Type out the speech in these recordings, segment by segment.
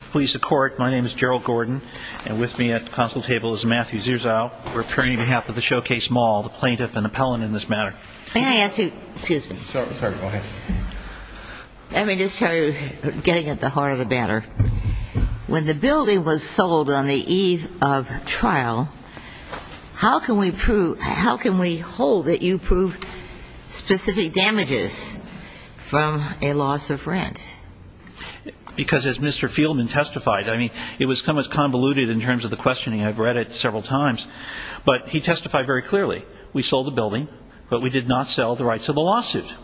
Pleased to court, my name is Gerald Gordon, and with me at the consul table is Matthew Zierzow, we're appearing on behalf of the Showcase Mall, the plaintiff and appellant in this matter. May I ask you, excuse me. Sorry, sorry, go ahead. Let me just tell you, getting at the heart of the matter, when the building was sold on the eve of trial, how can we prove, how can we hold that you prove specific damages from a loss of rent? Because as Mr. Fieldman testified, I mean, it was kind of convoluted in terms of the questioning, I've read it several times, but he testified very clearly. We sold the building, but we did not sell the rights of the lawsuit.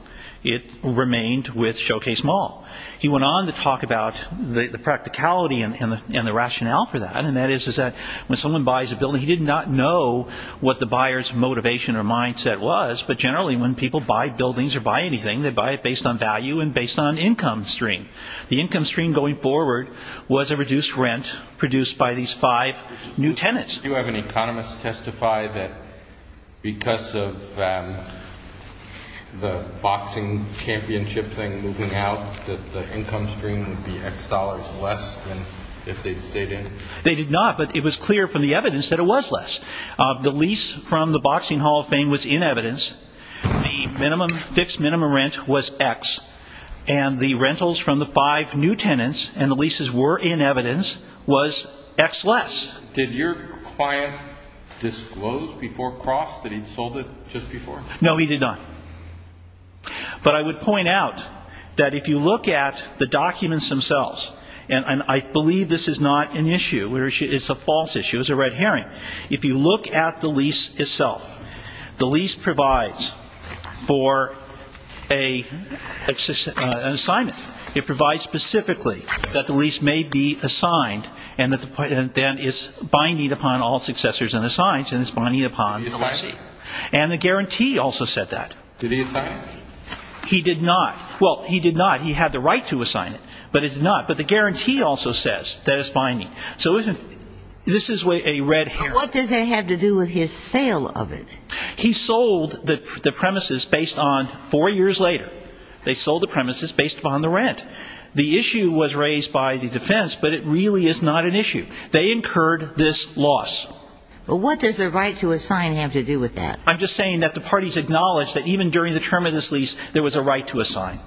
It remained with Showcase Mall. He went on to talk about the practicality and the rationale for that, and that is that when someone buys a building, he did not know what the buyer's motivation or mindset was, but generally when people buy buildings or buy anything, they buy it based on value and based on income stream. The income stream going forward was a reduced rent produced by these five new tenants. Do you have any economists testify that because of the boxing championship thing moving out, that the income stream would be X dollars less than if they'd stayed in? They did not, but it was clear from the evidence that it was less. The lease from the Boxing Hall of Fame was in evidence. The fixed minimum rent was X, and the rentals from the five new tenants, and the leases were in evidence, was X less. Did your client disclose before cross that he'd sold it just before? No, he did not. But I would point out that if you look at the documents themselves, and I believe this is not an issue. It's a false issue. It's a red herring. If you look at the lease itself, the lease provides for an assignment. It provides specifically that the lease may be assigned and then is binding upon all successors and assigns, and it's binding upon the leasee. And the guarantee also said that. Did he assign it? He did not. Well, he did not. He had the right to assign it, but he did not. But the guarantee also says that it's binding. So this is a red herring. What does that have to do with his sale of it? He sold the premises based on four years later. They sold the premises based upon the rent. The issue was raised by the defense, but it really is not an issue. They incurred this loss. But what does the right to assign have to do with that? I'm just saying that the parties acknowledged that even during the term of this lease, there was a right to assign.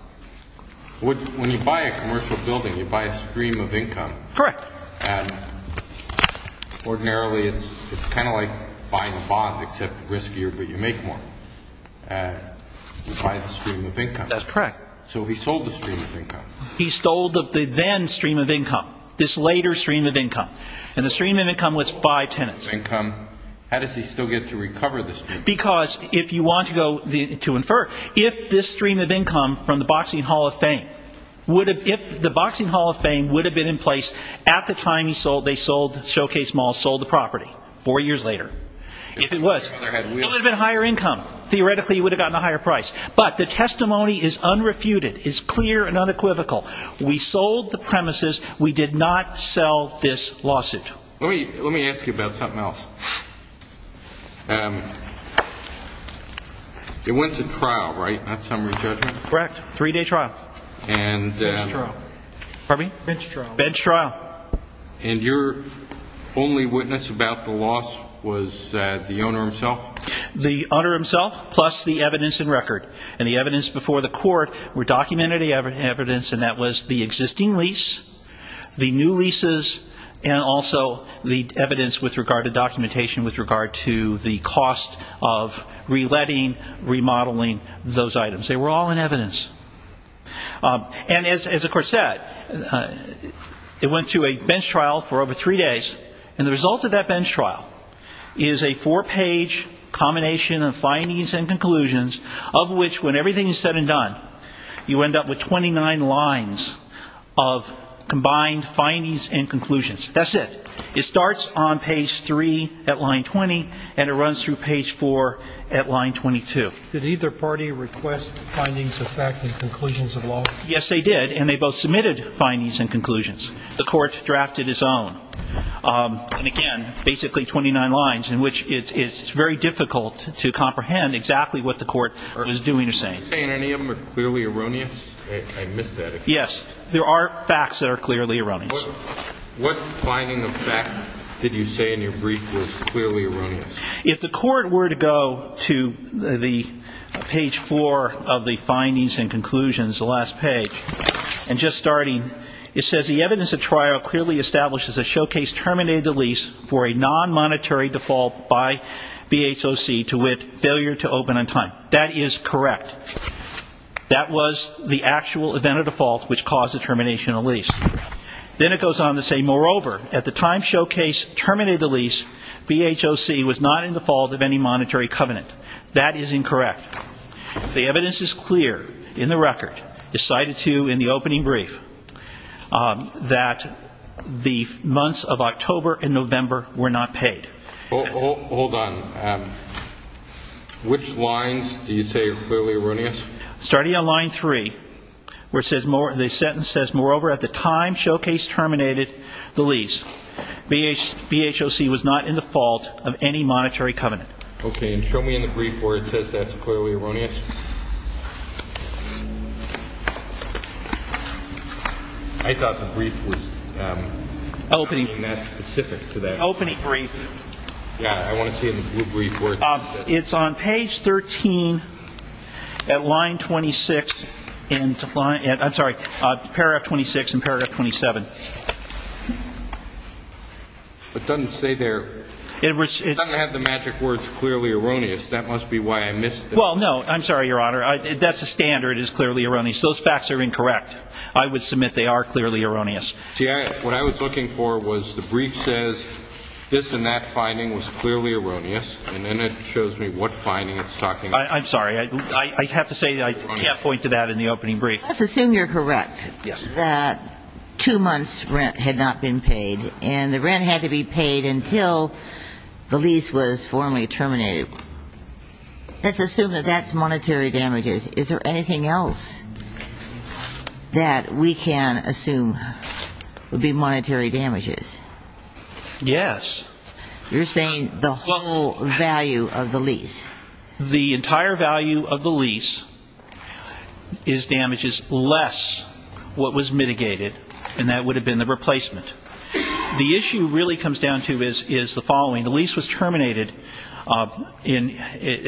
When you buy a commercial building, you buy a stream of income. Correct. And ordinarily, it's kind of like buying a bond, except riskier, but you make more. And you buy the stream of income. That's correct. So he sold the stream of income. He stole the then stream of income, this later stream of income. And the stream of income was five tenants. Income. How does he still get to recover the stream of income? If you want to infer, if this stream of income from the Boxing Hall of Fame, if the Boxing Hall of Fame would have been in place at the time they sold Showcase Mall, sold the property four years later, if it was, it would have been higher income. Theoretically, it would have gotten a higher price. But the testimony is unrefuted, is clear and unequivocal. We sold the premises. We did not sell this lawsuit. Let me ask you about something else. It went to trial, right? Not summary judgment? Correct. Three-day trial. And bench trial. And your only witness about the loss was the owner himself? The owner himself, plus the evidence and record. And the evidence before the court were documented evidence, and that was the existing lease, the new leases, and also the evidence with regard to documentation, with regard to the cost of reletting, remodeling those items. They were all in evidence. And as the court said, it went to a bench trial for over three days. And the result of that bench trial is a four-page combination of findings and conclusions of which, when everything is said and done, you end up with 29 lines of combined findings and conclusions. That's it. It starts on page 3 at line 20, and it runs through page 4 at line 22. Did either party request findings of fact and conclusions of law? Yes, they did, and they both submitted findings and conclusions. The court drafted its own. And again, basically 29 lines in which it's very difficult to comprehend exactly what the court was doing or saying. Are you saying any of them are clearly erroneous? I missed that. Yes, there are facts that are clearly erroneous. What finding of fact did you say in your brief was clearly erroneous? If the court were to go to the page 4 of the findings and conclusions, the last page, and just starting, it says, the evidence of trial clearly establishes a showcase terminated the lease for a non-monetary default by BHOC to which failure to open on time. That is correct. That was the actual event of default which caused the termination of lease. Then it goes on to say, moreover, at the time showcase terminated the lease, BHOC was not in default of any monetary covenant. That is incorrect. The evidence is clear in the record, as cited to you in the opening brief, that the months of October and November were not paid. Hold on. Which lines do you say are clearly erroneous? Starting on line 3, the sentence says, moreover, at the time showcase terminated the lease, BHOC was not in default of any monetary covenant. Okay, and show me in the brief where it says that's clearly erroneous. I thought the brief was not specific to that. Opening brief. Yeah, I want to see in the blue brief where it says that. It's on page 13 at line 26. I'm sorry, paragraph 26 and paragraph 27. It doesn't say there. It doesn't have the magic words clearly erroneous. That must be why I missed it. Well, no, I'm sorry, Your Honor. That's the standard is clearly erroneous. Those facts are incorrect. I would submit they are clearly erroneous. See, what I was looking for was the brief says, this and that finding was clearly erroneous, and then it shows me what finding it's talking about. I'm sorry, I have to say I can't point to that in the opening brief. Let's assume you're correct that two months rent had not been paid and the rent had to be paid until the lease was formally terminated. Let's assume that that's monetary damages. Is there anything else that we can assume would be monetary damages? Yes. You're saying the whole value of the lease. The entire value of the lease is damages less what was mitigated, and that would have been the replacement. The issue really comes down to is the following. The lease was terminated at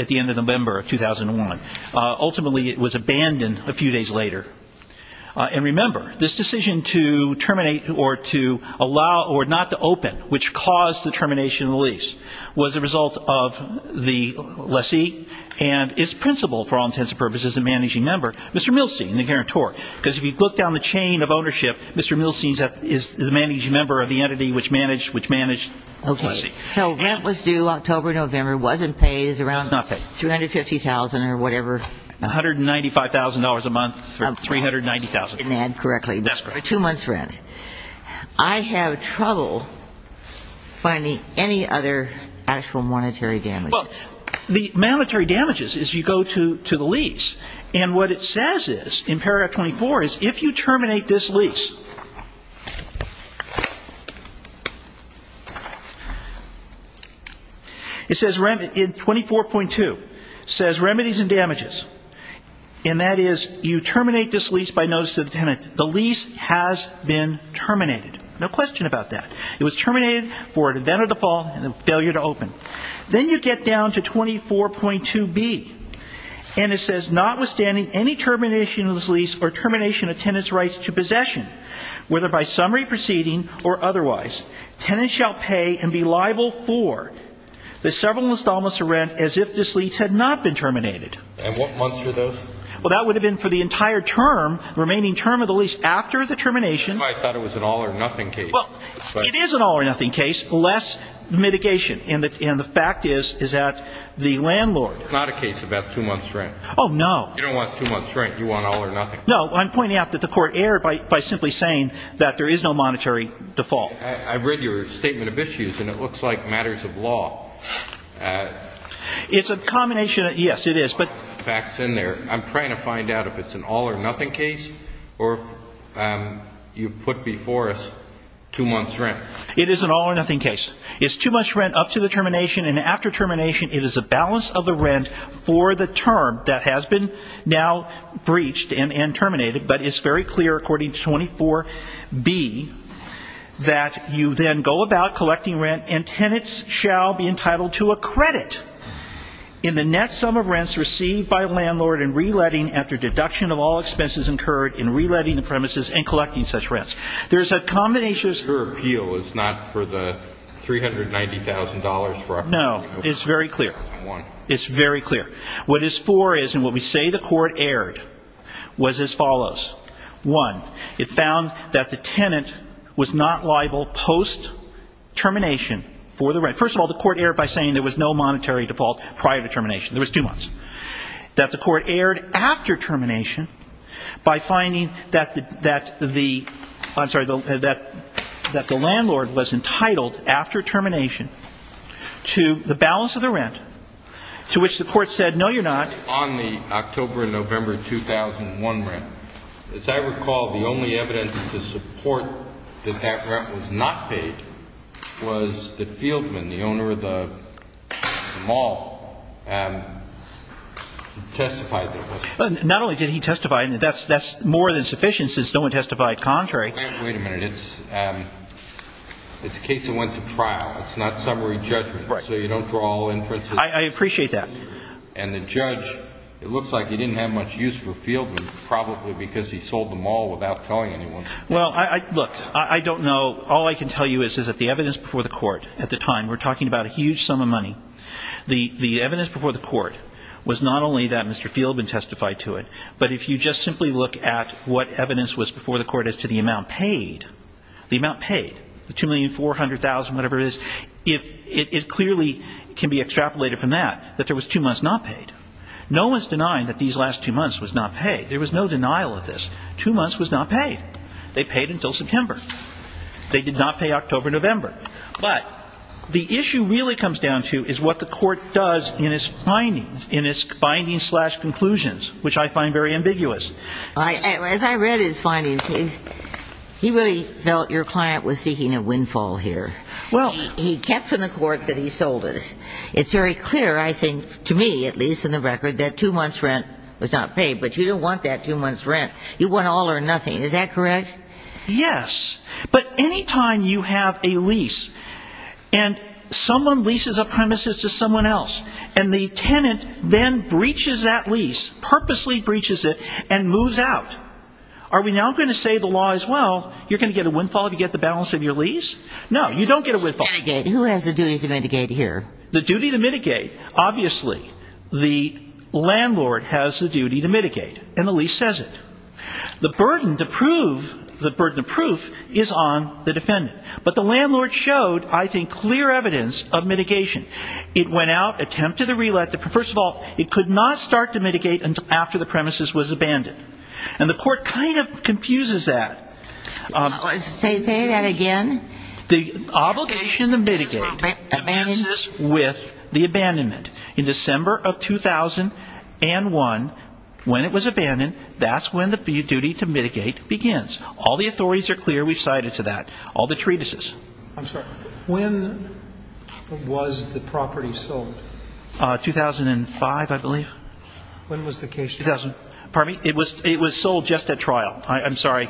the end of November of 2001. Ultimately, it was abandoned a few days later. And remember, this decision to terminate or to allow or not to open, which caused the termination of the lease was a result of the lessee and its principal, for all intents and purposes, the managing member, Mr. Milstein, the guarantor. Because if you look down the chain of ownership, Mr. Milstein is the managing member of the entity which managed the lessee. So rent was due October, November, wasn't paid. It was around $350,000 or whatever. $195,000 a month or $390,000. I didn't add correctly. That's correct. Two months rent. I have trouble finding any other actual monetary damages. Well, the monetary damages is you go to the lease. And what it says is, in paragraph 24, is if you terminate this lease, it says in 24.2, says remedies and damages. And that is you terminate this lease by notice to the tenant. The lease has been terminated. No question about that. It was terminated for an event of default and a failure to open. Then you get down to 24.2b. And it says notwithstanding any termination of this lease or termination of tenant's rights to possession, whether by summary proceeding or otherwise, tenant shall pay and be liable for the several installment of rent as if this lease had not been terminated. And what months were those? Well, that would have been for the entire term, remaining term of the lease after the termination. I thought it was an all or nothing case. Well, it is an all or nothing case. Less mitigation. And the fact is, is that the landlord. It's not a case about two months rent. Oh, no. You don't want two months rent. You want all or nothing. No, I'm pointing out that the court erred by simply saying that there is no monetary default. I've read your statement of issues. And it looks like matters of law. It's a combination. Yes, it is. But facts in there. I'm trying to find out if it's an all or nothing case or you put before us two months rent. It is an all or nothing case. It's too much rent up to the termination. And after termination, it is a balance of the rent for the term that has been now breached and terminated. But it's very clear, according to 24b, that you then go about collecting rent and tenants shall be entitled to a credit in the net sum of rents by a landlord in re-letting after deduction of all expenses incurred in re-letting the premises and collecting such rents. There is a combination. Your appeal is not for the $390,000 for opportunity. No, it's very clear. It's very clear. What it's for is, and what we say the court erred, was as follows. One, it found that the tenant was not liable post-termination for the rent. First of all, the court erred by saying there was no monetary default prior to termination. There was two months. That the court erred after termination by finding that the landlord was entitled after termination to the balance of the rent, to which the court said, no, you're not. On the October and November 2001 rent, as I recall, the only evidence to support that that rent was not paid was that Fieldman, the owner of the mall, testified that it was. Not only did he testify, and that's more than sufficient since no one testified contrary. Wait a minute. It's a case that went to trial. It's not summary judgment. So you don't draw all inferences. I appreciate that. And the judge, it looks like he didn't have much use for Fieldman, probably because he sold the mall without telling anyone. Well, look, I don't know. All I can tell you is that the evidence before the court at the time, we're talking about a huge sum of money. The evidence before the court was not only that Mr. Fieldman testified to it, but if you just simply look at what evidence was before the court as to the amount paid, the amount paid, the $2,400,000, whatever it is, it clearly can be extrapolated from that, that there was two months not paid. No one's denying that these last two months was not paid. There was no denial of this. Two months was not paid. They paid until September. They did not pay October, November. But the issue really comes down to is what the court does in its findings, in its findings slash conclusions, which I find very ambiguous. As I read his findings, he really felt your client was seeking a windfall here. Well, he kept from the court that he sold it. It's very clear, I think, to me, at least in the record, that two months' rent was not paid. But you don't want that two months' rent. You want all or nothing. Is that correct? Yes. But any time you have a lease and someone leases a premises to someone else and the tenant then breaches that lease, purposely breaches it and moves out, are we now going to say the law is, well, you're going to get a windfall if you get the balance of your lease? No, you don't get a windfall. Who has the duty to mitigate here? The duty to mitigate. Obviously, the landlord has the duty to mitigate and the lease says it. The burden to prove the burden of proof is on the defendant. But the landlord showed, I think, clear evidence of mitigation. It went out, attempted a relet. First of all, it could not start to mitigate after the premises was abandoned. And the court kind of confuses that. Say that again. The obligation to mitigate with the abandonment. In December of 2001, when it was abandoned, that's when the duty to mitigate begins. All the authorities are clear. We've cited to that. All the treatises. I'm sorry. When was the property sold? 2005, I believe. When was the case? Pardon me? It was sold just at trial. I'm sorry.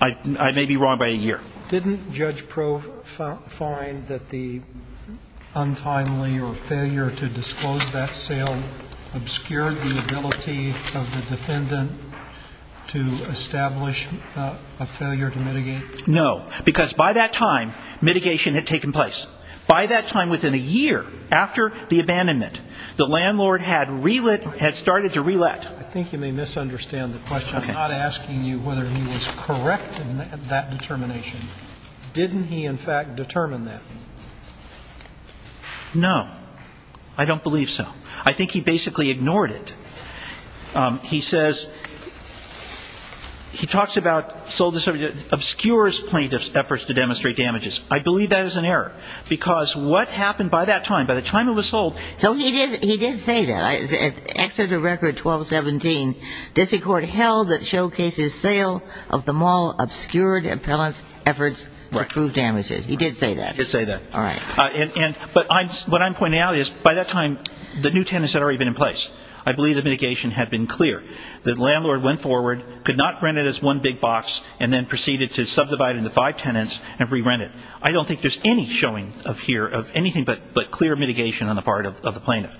I may be wrong by a year. Didn't Judge Prove find that the untimely or failure to disclose that sale obscured the ability of the defendant to establish a failure to mitigate? No. Because by that time, mitigation had taken place. By that time, within a year after the abandonment, the landlord had started to relet. I think you may misunderstand the question. I'm not asking you whether he was correct in that determination. Didn't he, in fact, determine that? No. I don't believe so. I think he basically ignored it. He says, he talks about, obscures plaintiff's efforts to demonstrate damages. I believe that is an error. Because what happened by that time, by the time it was sold. So he did say that. Exeter Record 1217. District Court held that showcases sale of the mall obscured appellant's efforts to prove damages. He did say that. He did say that. All right. But what I'm pointing out is, by that time, the new tenets had already been in place. I believe the mitigation had been clear. The landlord went forward, could not rent it as one big box, and then proceeded to subdivide into five tenants and re-rent it. I don't think there's any showing of here, of anything but clear mitigation on the part of the plaintiff.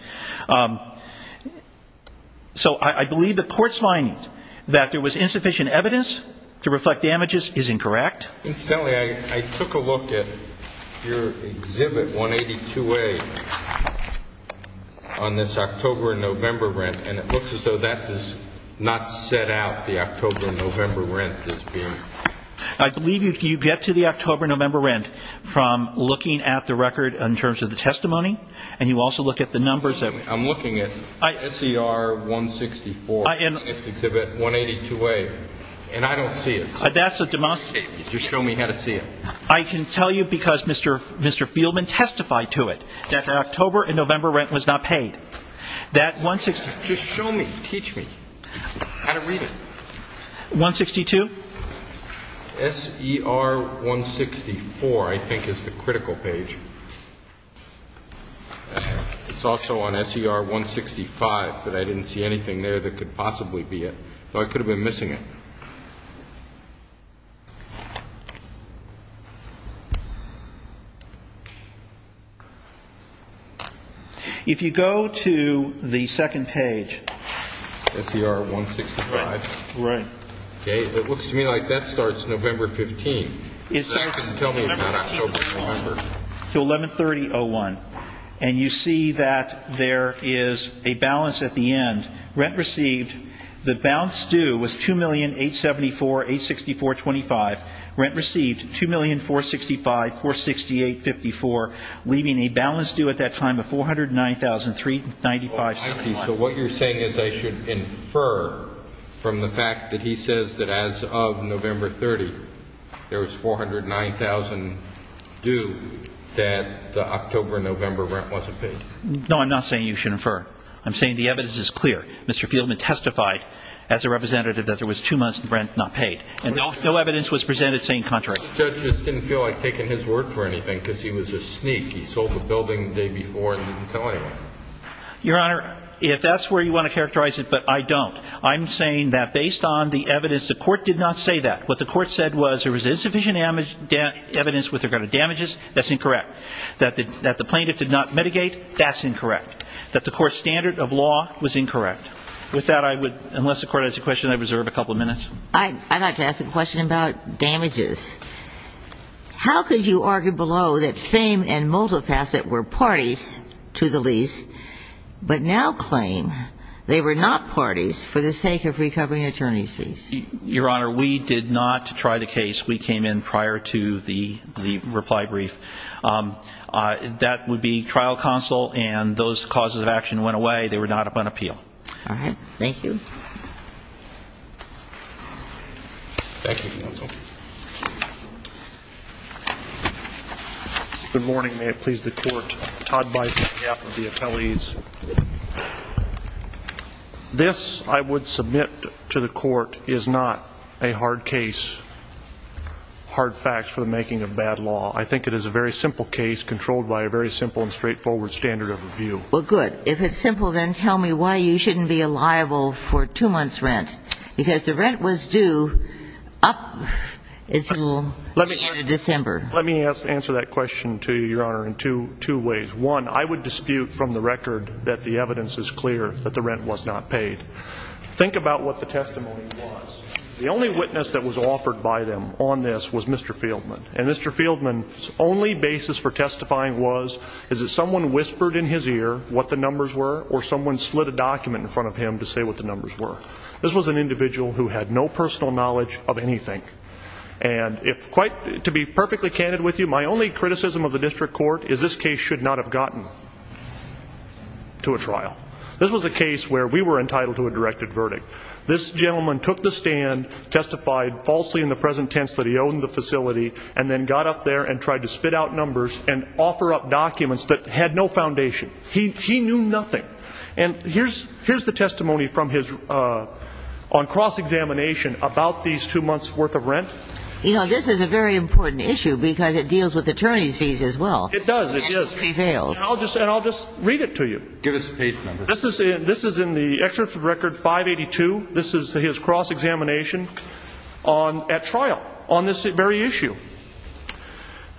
So I believe the court's finding that there was insufficient evidence to reflect damages is incorrect. Incidentally, I took a look at your Exhibit 182A on this October-November rent, and it looks as though that does not set out the October-November rent. I believe you get to the October-November rent from looking at the record in terms of the testimony, and you also look at the numbers. I'm looking at SER 164 in Exhibit 182A, and I don't see it. That's a demonstrative. Just show me how to see it. I can tell you because Mr. Fieldman testified to it. That the October-November rent was not paid. That 162... Just show me. Teach me how to read it. 162? SER 164, I think, is the critical page. It's also on SER 165, but I didn't see anything there that could possibly be it. So I could have been missing it. If you go to the second page... SER 165. Right. Okay. It looks to me like that starts November 15th. It starts November 15th. So 1130-01, and you see that there is a balance at the end. Rent received, the balance due was $2,874,864.25. Rent received $2,465,468.54, leaving a balance due at that time of $409,395.71. So what you're saying is I should infer from the fact that he says that as of November 30, there was $409,000 due that the October-November rent wasn't paid. No, I'm not saying you should infer. I'm saying the evidence is clear. Mr. Fieldman testified as a representative that there was two months of rent not paid, and no evidence was presented saying contrary. The judge just didn't feel like taking his word for anything because he was a sneak. He sold the building the day before and didn't tell anyone. Your Honor, if that's where you want to characterize it, but I don't. I'm saying that based on the evidence, the court did not say that. What the court said was there was insufficient evidence with regard to damages. That's incorrect. That the plaintiff did not mitigate, that's incorrect. That the court's standard of law was incorrect. I'd like to ask a question about damages. How could you argue below that Fame and Multifacet were parties to the lease, but now claim they were not parties for the sake of recovering attorney's fees? Your Honor, we did not try the case. We came in prior to the reply brief. That would be trial counsel, and those causes of action went away. They were not up on appeal. All right. Thank you. Thank you, counsel. Good morning. May it please the court. Todd Bison, staff of the appellees. This, I would submit to the court, is not a hard case. Hard facts for the making of bad law. I think it is a very simple case controlled by a very simple and straightforward standard of review. Well, good. If it's simple, then tell me why you shouldn't be a liable for two months' rent. Because the rent was due up until the end of December. Let me answer that question to you, Your Honor, in two ways. One, I would dispute from the record that the evidence is clear that the rent was not paid. Think about what the testimony was. The only witness that was offered by them on this was Mr. Fieldman. And Mr. Fieldman's only basis for testifying was, is that someone whispered in his ear what the numbers were, or someone slid a document in front of him to say what the numbers were. This was an individual who had no personal knowledge of anything. And if quite, to be perfectly candid with you, my only criticism of the district court is this case should not have gotten to a trial. This was a case where we were entitled to a directed verdict. This gentleman took the stand, testified falsely in the present tense that he owned the facility, and then got up there and tried to spit out numbers and offer up documents that had no foundation. He knew nothing. And here's the testimony on cross-examination about these two months' worth of rent. You know, this is a very important issue because it deals with attorney's fees as well. It does. And it prevails. And I'll just read it to you. Give us the page number. This is in the Excellency Record 582. This is his cross-examination at trial on this very issue.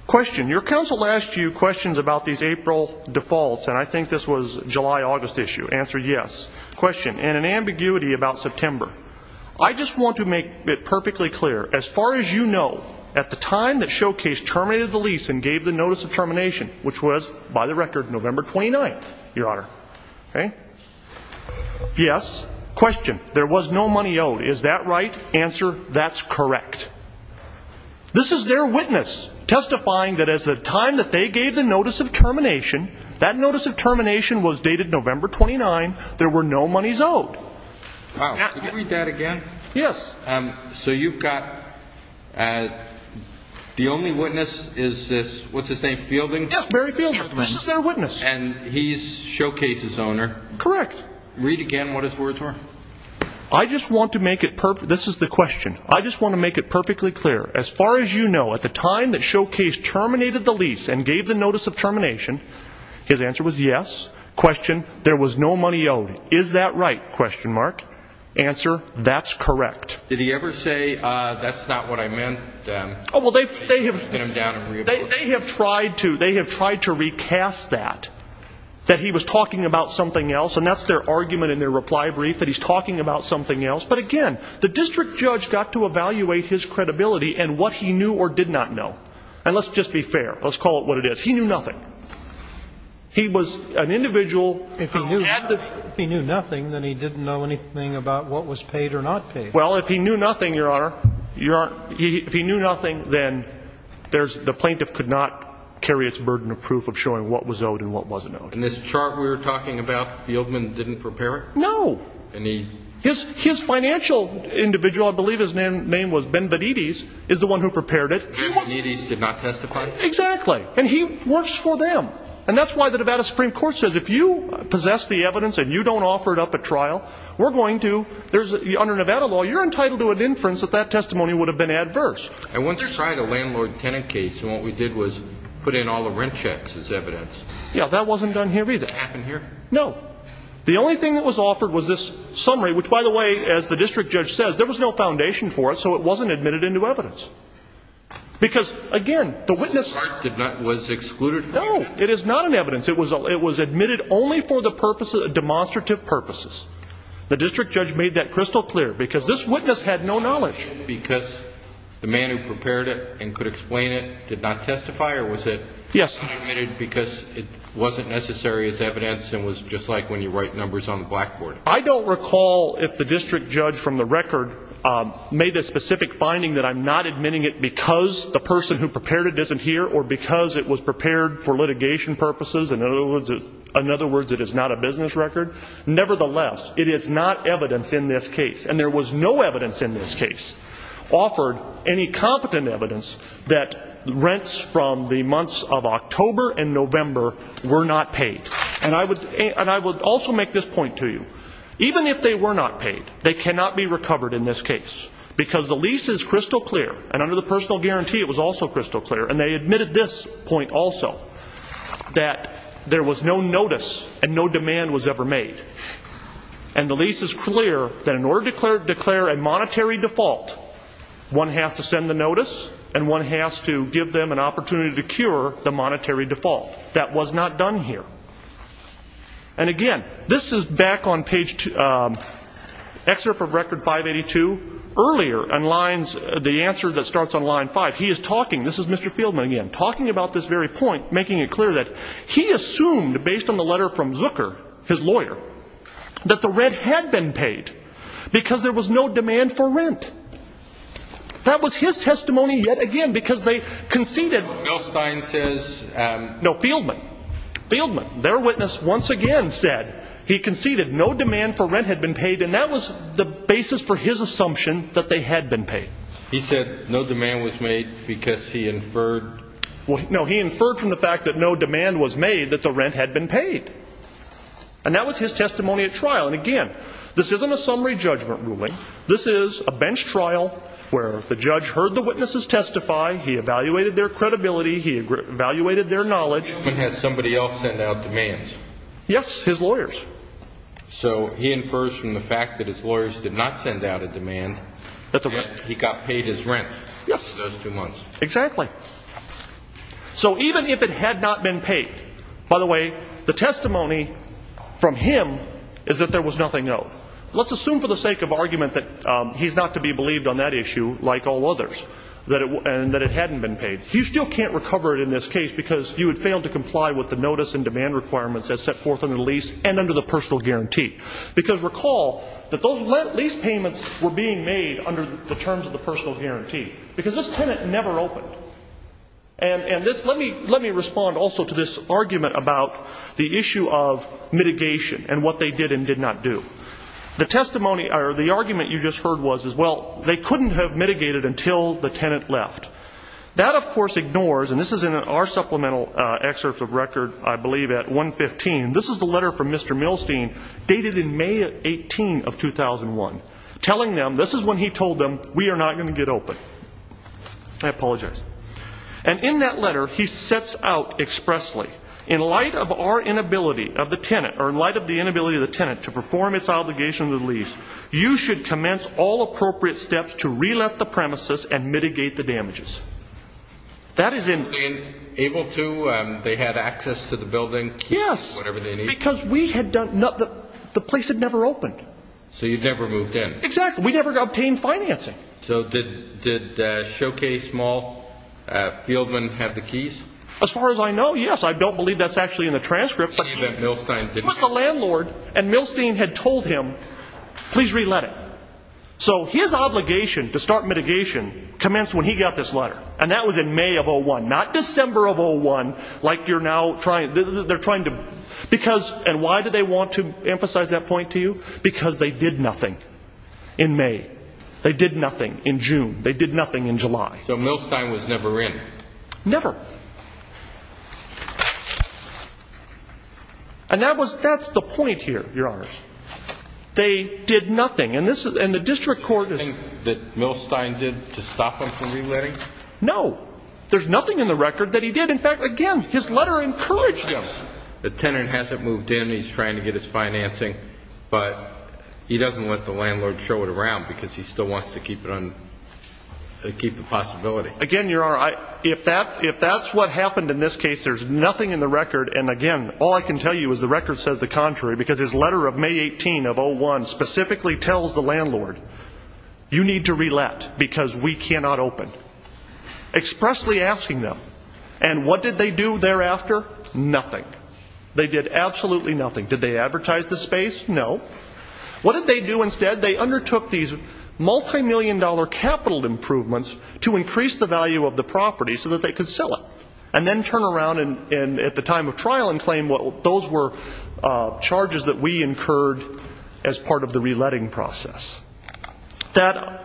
Question. Your counsel asked you questions about these April defaults, and I think this was July-August issue. Answer, yes. Question. And an ambiguity about September. I just want to make it perfectly clear, as far as you know, at the time that Showcase terminated the lease and gave the notice of termination, which was, by the record, November 29th, Your Honor. Okay? Yes. Question. There was no money owed. Is that right? Answer. That's correct. This is their witness testifying that as the time that they gave the notice of termination, that notice of termination was dated November 29. There were no monies owed. Wow. Can you read that again? Yes. So you've got the only witness is this, what's his name, Fielding? Yes, Barry Fielding. This is their witness. And he's Showcase's owner. Correct. Read again what his words were. I just want to make it, this is the question. I just want to make it perfectly clear, as far as you know, at the time that Showcase terminated the lease and gave the notice of termination, his answer was yes. Question. There was no money owed. Is that right? Question mark. Answer. That's correct. Did he ever say, that's not what I meant? Oh, well, they have, they have tried to, they have tried to recast that, that he was talking about something else. And that's their argument in their reply brief that he's talking about something else. But again, the district judge got to evaluate his credibility and what he knew or did not know. And let's just be fair. Let's call it what it is. He knew nothing. He was an individual. If he knew, if he knew nothing, then he didn't know anything about what was paid or not paid. Well, if he knew nothing, your honor, your, if he knew nothing, then there's, the plaintiff could not carry its burden of proof of showing what was owed and what wasn't owed. In this chart we were talking about, Fieldman didn't prepare it? No. And he. His, his financial individual, I believe his name was Benvenides, is the one who prepared it. Benvenides did not testify? Exactly. And he works for them. And that's why the Nevada Supreme Court says if you possess the evidence and you don't offer it up at trial, we're going to, there's, under Nevada law, you're entitled to an inference that that testimony would have been adverse. I once tried a landlord tenant case. And what we did was put in all the rent checks as evidence. Yeah. That wasn't done here either. Happened here? No. The only thing that was offered was this summary, which by the way, as the district judge says, there was no foundation for it. So it wasn't admitted into evidence. Because again, the witness. The chart did not, was excluded? No. It is not an evidence. It was, it was admitted only for the purposes of demonstrative purposes. The district judge made that crystal clear because this witness had no knowledge. Because the man who prepared it and could explain it did not testify or was it? Yes. Unadmitted because it wasn't necessary as evidence and was just like when you write numbers on the blackboard. I don't recall if the district judge from the record made a specific finding that I'm not In other words, it is not a business record. Nevertheless, it is not evidence in this case. And there was no evidence in this case offered any competent evidence that rents from the months of October and November were not paid. And I would, and I would also make this point to you. Even if they were not paid, they cannot be recovered in this case because the lease is crystal clear and under the personal guarantee, it was also crystal clear. And they admitted this point also that there was no notice and no demand was ever made. And the lease is clear that in order to declare, declare a monetary default, one has to send the notice and one has to give them an opportunity to cure the monetary default. That was not done here. And again, this is back on page two, excerpt of record 582 earlier and lines the answer that starts on line five. He is talking. This is Mr. Fieldman again, talking about this very point, making it clear that he assumed based on the letter from Zucker, his lawyer, that the rent had been paid because there was no demand for rent. That was his testimony yet again, because they conceded. Bill Stein says, um, no Fieldman Fieldman, their witness once again, said he conceded no demand for rent had been paid. And that was the basis for his assumption that they had been paid. He said no demand was made because he inferred. No, he inferred from the fact that no demand was made that the rent had been paid. And that was his testimony at trial. And again, this isn't a summary judgment ruling. This is a bench trial where the judge heard the witnesses testify. He evaluated their credibility. He evaluated their knowledge. When has somebody else sent out demands? Yes, his lawyers. So he infers from the fact that his lawyers did not send out a demand. He got paid his rent. Yes, exactly. So even if it had not been paid, by the way, the testimony from him is that there was nothing. No, let's assume for the sake of argument that he's not to be believed on that issue, like all others, that it, and that it hadn't been paid. You still can't recover it in this case because you had failed to comply with the notice and demand requirements as set forth in the lease and under the personal guarantee. Because recall that those lease payments were being made under the terms of the personal guarantee because this tenant never opened. And this, let me respond also to this argument about the issue of mitigation and what they did and did not do. The testimony, or the argument you just heard was as well, they couldn't have mitigated until the tenant left. That, of course, ignores, and this is in our supplemental excerpts of record, I believe at 115. This is the letter from Mr. Milstein, dated in May 18 of 2001, telling them, this is when he told them, we are not going to get open. I apologize. And in that letter, he sets out expressly, in light of our inability of the tenant, or in light of the inability of the tenant to perform its obligation to the lease, you should commence all appropriate steps to re-let the premises and mitigate the damages. That is in- Able to, they had access to the building? Yes. Whatever they need? Because we had done, the place had never opened. So you never moved in? Exactly. We never obtained financing. So did Showcase Mall, Fieldman have the keys? As far as I know, yes. I don't believe that's actually in the transcript. It was the landlord, and Milstein had told him, please re-let it. So his obligation to start mitigation commenced when he got this letter, and that was in May of 01, not December of 01, like you're now trying, they're trying to, because, and why do they want to emphasize that point to you? Because they did nothing in May. They did nothing in June. They did nothing in July. So Milstein was never in? Never. And that was, that's the point here, your honors. They did nothing. And this is, and the district court is- That Milstein did to stop them from re-letting? No, there's nothing in the record that he did. In fact, again, his letter encouraged them. The tenant hasn't moved in. He's trying to get his financing, but he doesn't let the landlord show it around because he still wants to keep it on, keep the possibility. Again, your honor, if that, if that's what happened in this case, there's nothing in the record. And again, all I can tell you is the record says the contrary, because his letter of May 18 of 01 specifically tells the landlord, you need to re-let because we cannot open. Expressly asking them. And what did they do thereafter? Nothing. They did absolutely nothing. Did they advertise the space? No. What did they do instead? They undertook these multi-million dollar capital improvements to increase the value of the property so that they could sell it and then turn around and at the time of trial and claim what those were charges that we incurred as part of the re-letting process. That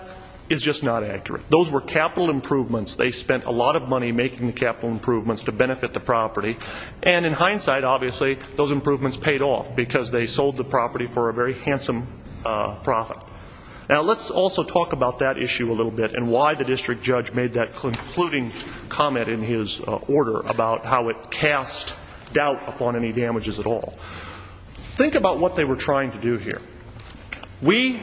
is just not accurate. Those were capital improvements. They spent a lot of money making the capital improvements to benefit the property. And in hindsight, obviously those improvements paid off because they sold the property for a very handsome profit. Now let's also talk about that issue a little bit and why the district judge made that concluding comment in his order about how it cast doubt upon any damages at all. Think about what they were trying to do here. We,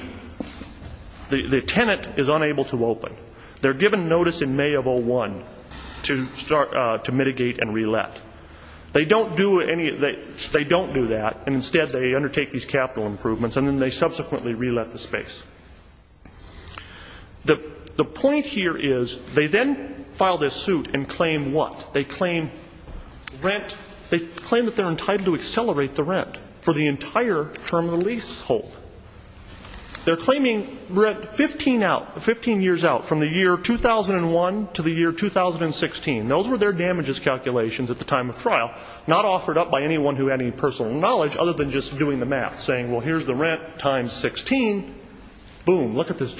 the tenant is unable to open. They're given notice in May of 01 to start to mitigate and re-let. They don't do any, they don't do that and instead they undertake these capital improvements and then they subsequently re-let the space. The point here is they then file this suit and claim what? They claim rent, they claim that they're entitled to accelerate the rent for the entire term of the lease hold. They're claiming rent 15 out, 15 years out from the year 2001 to the year 2016. Those were their damages calculations at the time of trial, not offered up by anyone who had any personal knowledge other than just doing the math, saying well here's the rent times 16, boom, look at this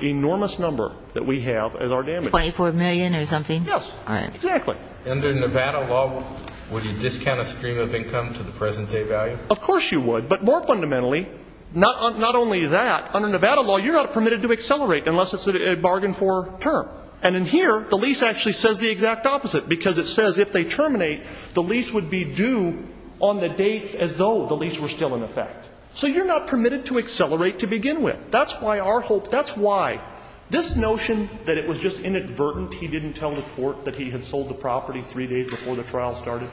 enormous number that we have as our damages. 24 million or something? Yes, exactly. Under Nevada law, would you discount a stream of income to the present day value? Of course you would. But more fundamentally, not only that, under Nevada law you're not permitted to accelerate unless it's a bargain for term. And in here the lease actually says the exact opposite because it says if they terminate the lease would be due on the dates as though the lease were still in effect. So you're not permitted to accelerate to begin with. That's why our hope, that's why this notion that it was just inadvertent he didn't tell the court that he had sold the property three days before the trial started,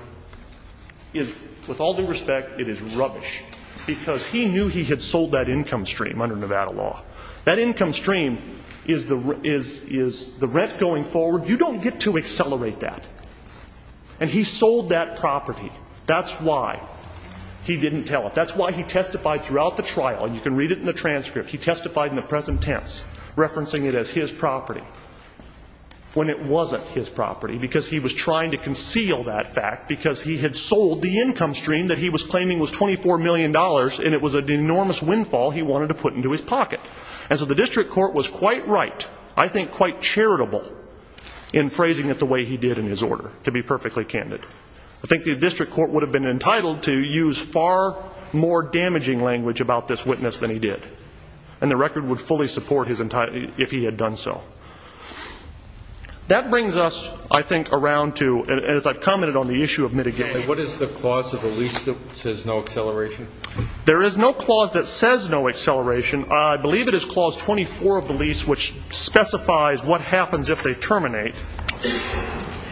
is with all due respect, it is rubbish. Because he knew he had sold that income stream under Nevada law. That income stream is the rent going forward. You don't get to accelerate that. And he sold that property. That's why he didn't tell it. That's why he testified throughout the trial. And you can read it in the transcript. He testified in the present tense, referencing it as his property when it wasn't his property because he was trying to conceal that fact because he had sold the income stream that he was claiming was $24 million and it was an enormous windfall he wanted to put into his pocket. And so the district court was quite right, I think quite charitable, in phrasing it the way he did in his order, to be perfectly candid. I think the district court would have been entitled to use far more damaging language about this witness than he did. And the record would fully support his, if he had done so. That brings us, I think, around to, as I've commented on the issue of mitigation. And what is the clause of the lease that says no acceleration? There is no clause that says no acceleration. I believe it is clause 24 of the lease, which specifies what happens if they terminate.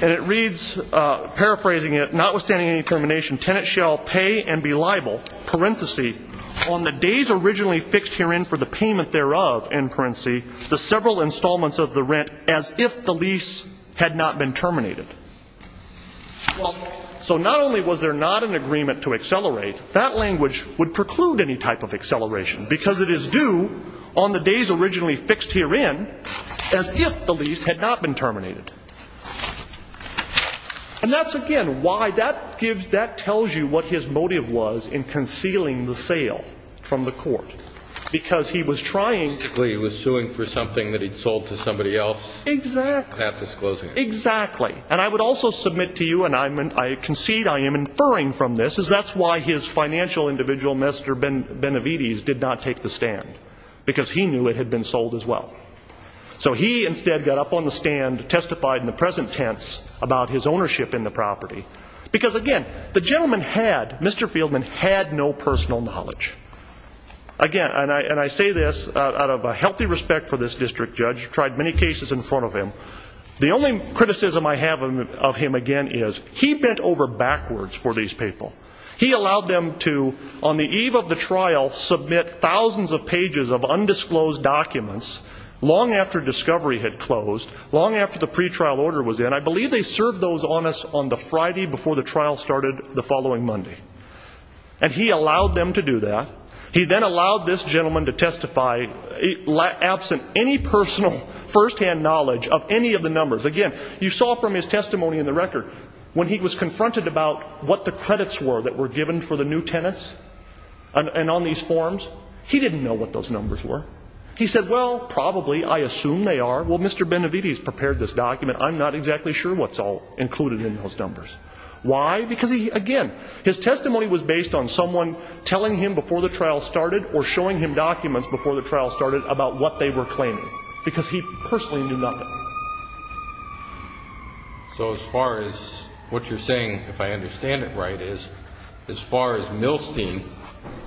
And it reads, paraphrasing it, notwithstanding any termination, tenant shall pay and be liable, parentheses, on the days originally fixed herein for the payment thereof, end parentheses, the several installments of the rent as if the lease had not been terminated. So not only was there not an agreement to accelerate, that language would preclude any type of acceleration because it is due on the days originally fixed herein as if the lease had not been terminated. And that's, again, why that gives, that tells you what his motive was in concealing the sale from the court. Because he was trying. Basically, he was suing for something that he'd sold to somebody else. Exactly. Not disclosing it. Exactly. And I would also submit to you, and I concede I am inferring from this, is that's why his financial individual, Mr. Benavides, did not take the stand. Because he knew it had been sold as well. So he instead got up on the stand, testified in the present tense about his ownership in the property. Because, again, the gentleman had, Mr. Fieldman had no personal knowledge. Again, and I say this out of a healthy respect for this district judge, tried many cases in front of him. The only criticism I have of him, again, is he bent over backwards for these people. He allowed them to, on the eve of the trial, submit thousands of pages of undisclosed documents long after discovery had closed, long after the pretrial order was in. I believe they served those on us on the Friday before the trial started the following Monday. And he allowed them to do that. He then allowed this gentleman to testify absent any personal first-hand knowledge of any of the numbers. Again, you saw from his testimony in the record, when he was confronted about what the credits were that were given for the new tenants and on these forms, he didn't know what those numbers were. He said, well, probably, I assume they are. Well, Mr. Benavides prepared this document. I'm not exactly sure what's all included in those numbers. Why? Because, again, his testimony was based on someone telling him before the trial started or showing him documents before the trial started about what they were claiming, because he personally knew nothing. So as far as what you're saying, if I understand it right, is as far as Milstein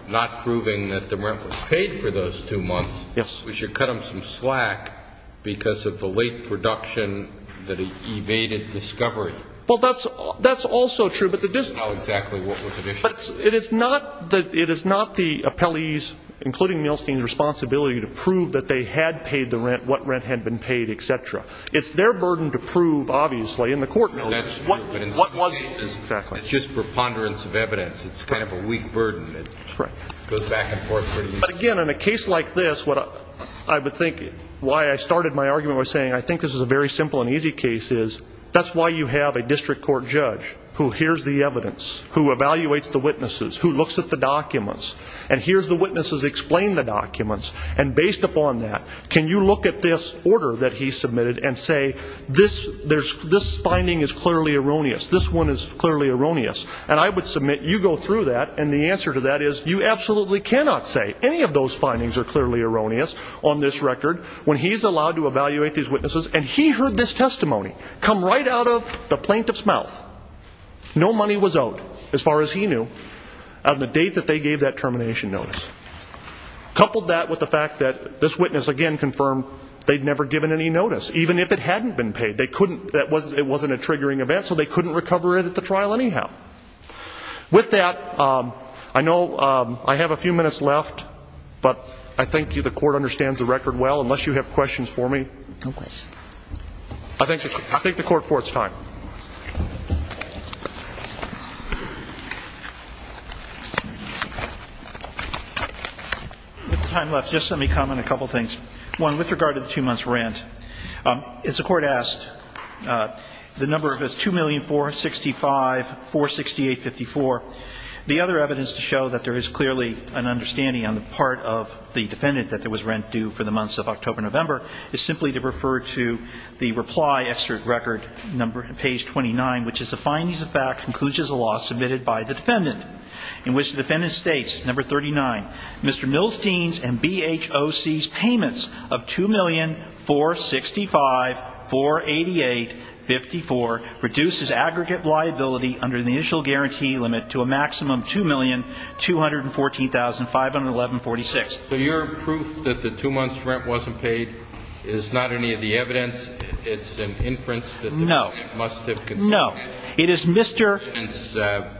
not proving that the rent was paid for those two months, we should cut him some slack because of the late production that evaded discovery. Well, that's also true. But it is not the appellee's, including Milstein's, responsibility to prove that they had paid the rent, what rent had been paid, et cetera. It's their burden to prove, obviously, in the court notice, what was exactly. It's just preponderance of evidence. It's kind of a weak burden. It goes back and forth. Again, in a case like this, what I would think why I started my argument was saying, I think this is a very simple and easy case, is that's why you have a district court judge who hears the evidence, who evaluates the witnesses, who looks at the documents, and hears the witnesses explain the documents. And based upon that, can you look at this order that he submitted and say, this finding is clearly erroneous. This one is clearly erroneous. And I would submit you go through that, and the answer to that is you absolutely cannot say any of those findings are clearly erroneous on this record when he's allowed to evaluate these witnesses. And he heard this testimony come right out of the plaintiff's mouth. No money was owed, as far as he knew, on the date that they gave that termination notice. Coupled that with the fact that this witness, again, confirmed they'd never given any notice, even if it hadn't been paid. They couldn't, it wasn't a triggering event, so they couldn't recover it at the trial anyhow. With that, I know I have a few minutes left, but I thank you. The court understands the record well. Unless you have questions for me. No questions. I thank the court for its time. With the time left, just let me comment a couple of things. One, with regard to the two months' rent, as the Court asked, the number of it is $2,465,468.54. The other evidence to show that there is clearly an understanding on the part of the defendant that there was rent due for the months of October-November is simply to refer to the reply, excerpt record, number, page 29, which is the findings of fact, concludes as a law submitted by the defendant, in which the defendant states, number 39, Mr. Milstein's and BHOC's payments of $2,465,488.54 reduce his aggregate liability under the initial guarantee limit to a maximum $2,214,511.46. So your proof that the two months' rent wasn't paid is not any of the evidence? It's an inference that the defendant must have consulted? No. It is Mr. The defendant's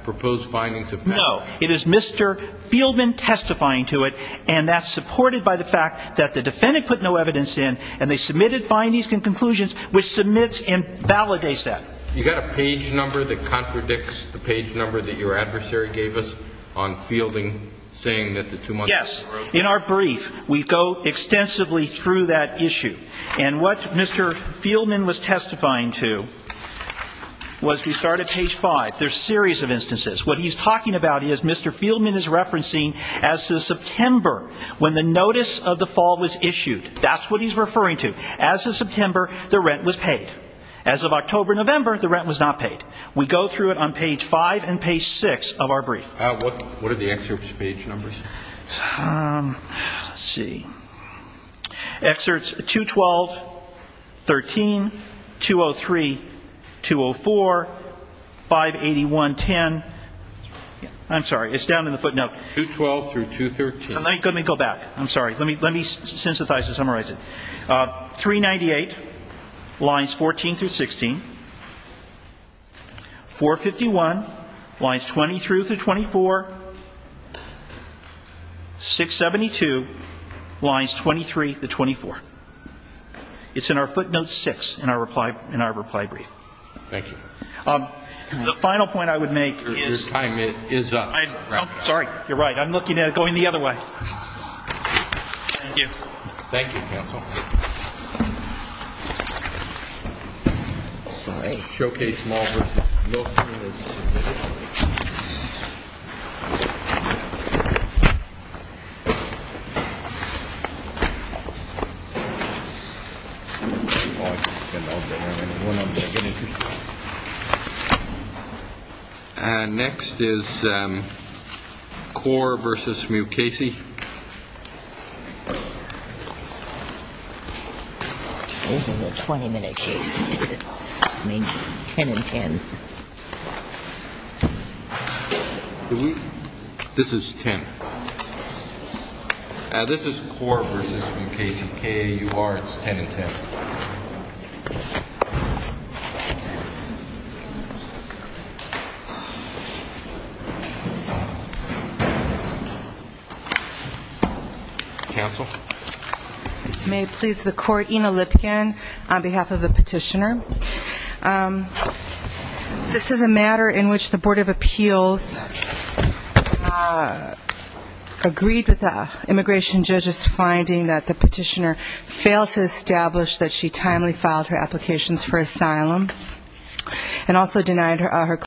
proposed findings of fact? No. It is Mr. Fieldman testifying to it, and that's supported by the fact that the defendant put no evidence in, and they submitted findings and conclusions, which submits and validates that. You've got a page number that contradicts the page number that your adversary gave us on Fielding saying that the two months' rent was not paid? Yes. In our brief, we go extensively through that issue, and what Mr. Fieldman was testifying to was we start at page 5. There's a series of instances. What he's talking about is Mr. Fieldman is referencing as to September, when the notice of the fall was issued. That's what he's referring to. As of September, the rent was paid. As of October, November, the rent was not paid. We go through it on page 5 and page 6 of our brief. What are the excerpt's page numbers? Let's see. Excerpts 212, 13, 203, 204, 581, 10. I'm sorry. It's down in the footnote. 212 through 213. Let me go back. I'm sorry. Let me synthesize and summarize it. 398, lines 14 through 16. 451, lines 23 through 24. 672, lines 23 to 24. It's in our footnote 6 in our reply brief. Thank you. The final point I would make is- Your time is up. Sorry. You're right. I'm looking at it going the other way. Thank you. Thank you, counsel. Sorry. Showcase small versus- Next is core versus new Casey. This is a 20-minute case. Make 10 and 10. This is 10. This is core versus new Casey. K-A-U-R. It's 10 and 10. Counsel? I may please the court. Ina Lipkin on behalf of the petitioner. This is a matter in which the Board of Appeals agreed with the immigration judge's finding that the petitioner failed to establish that she timely filed her applications for asylum and also denied her-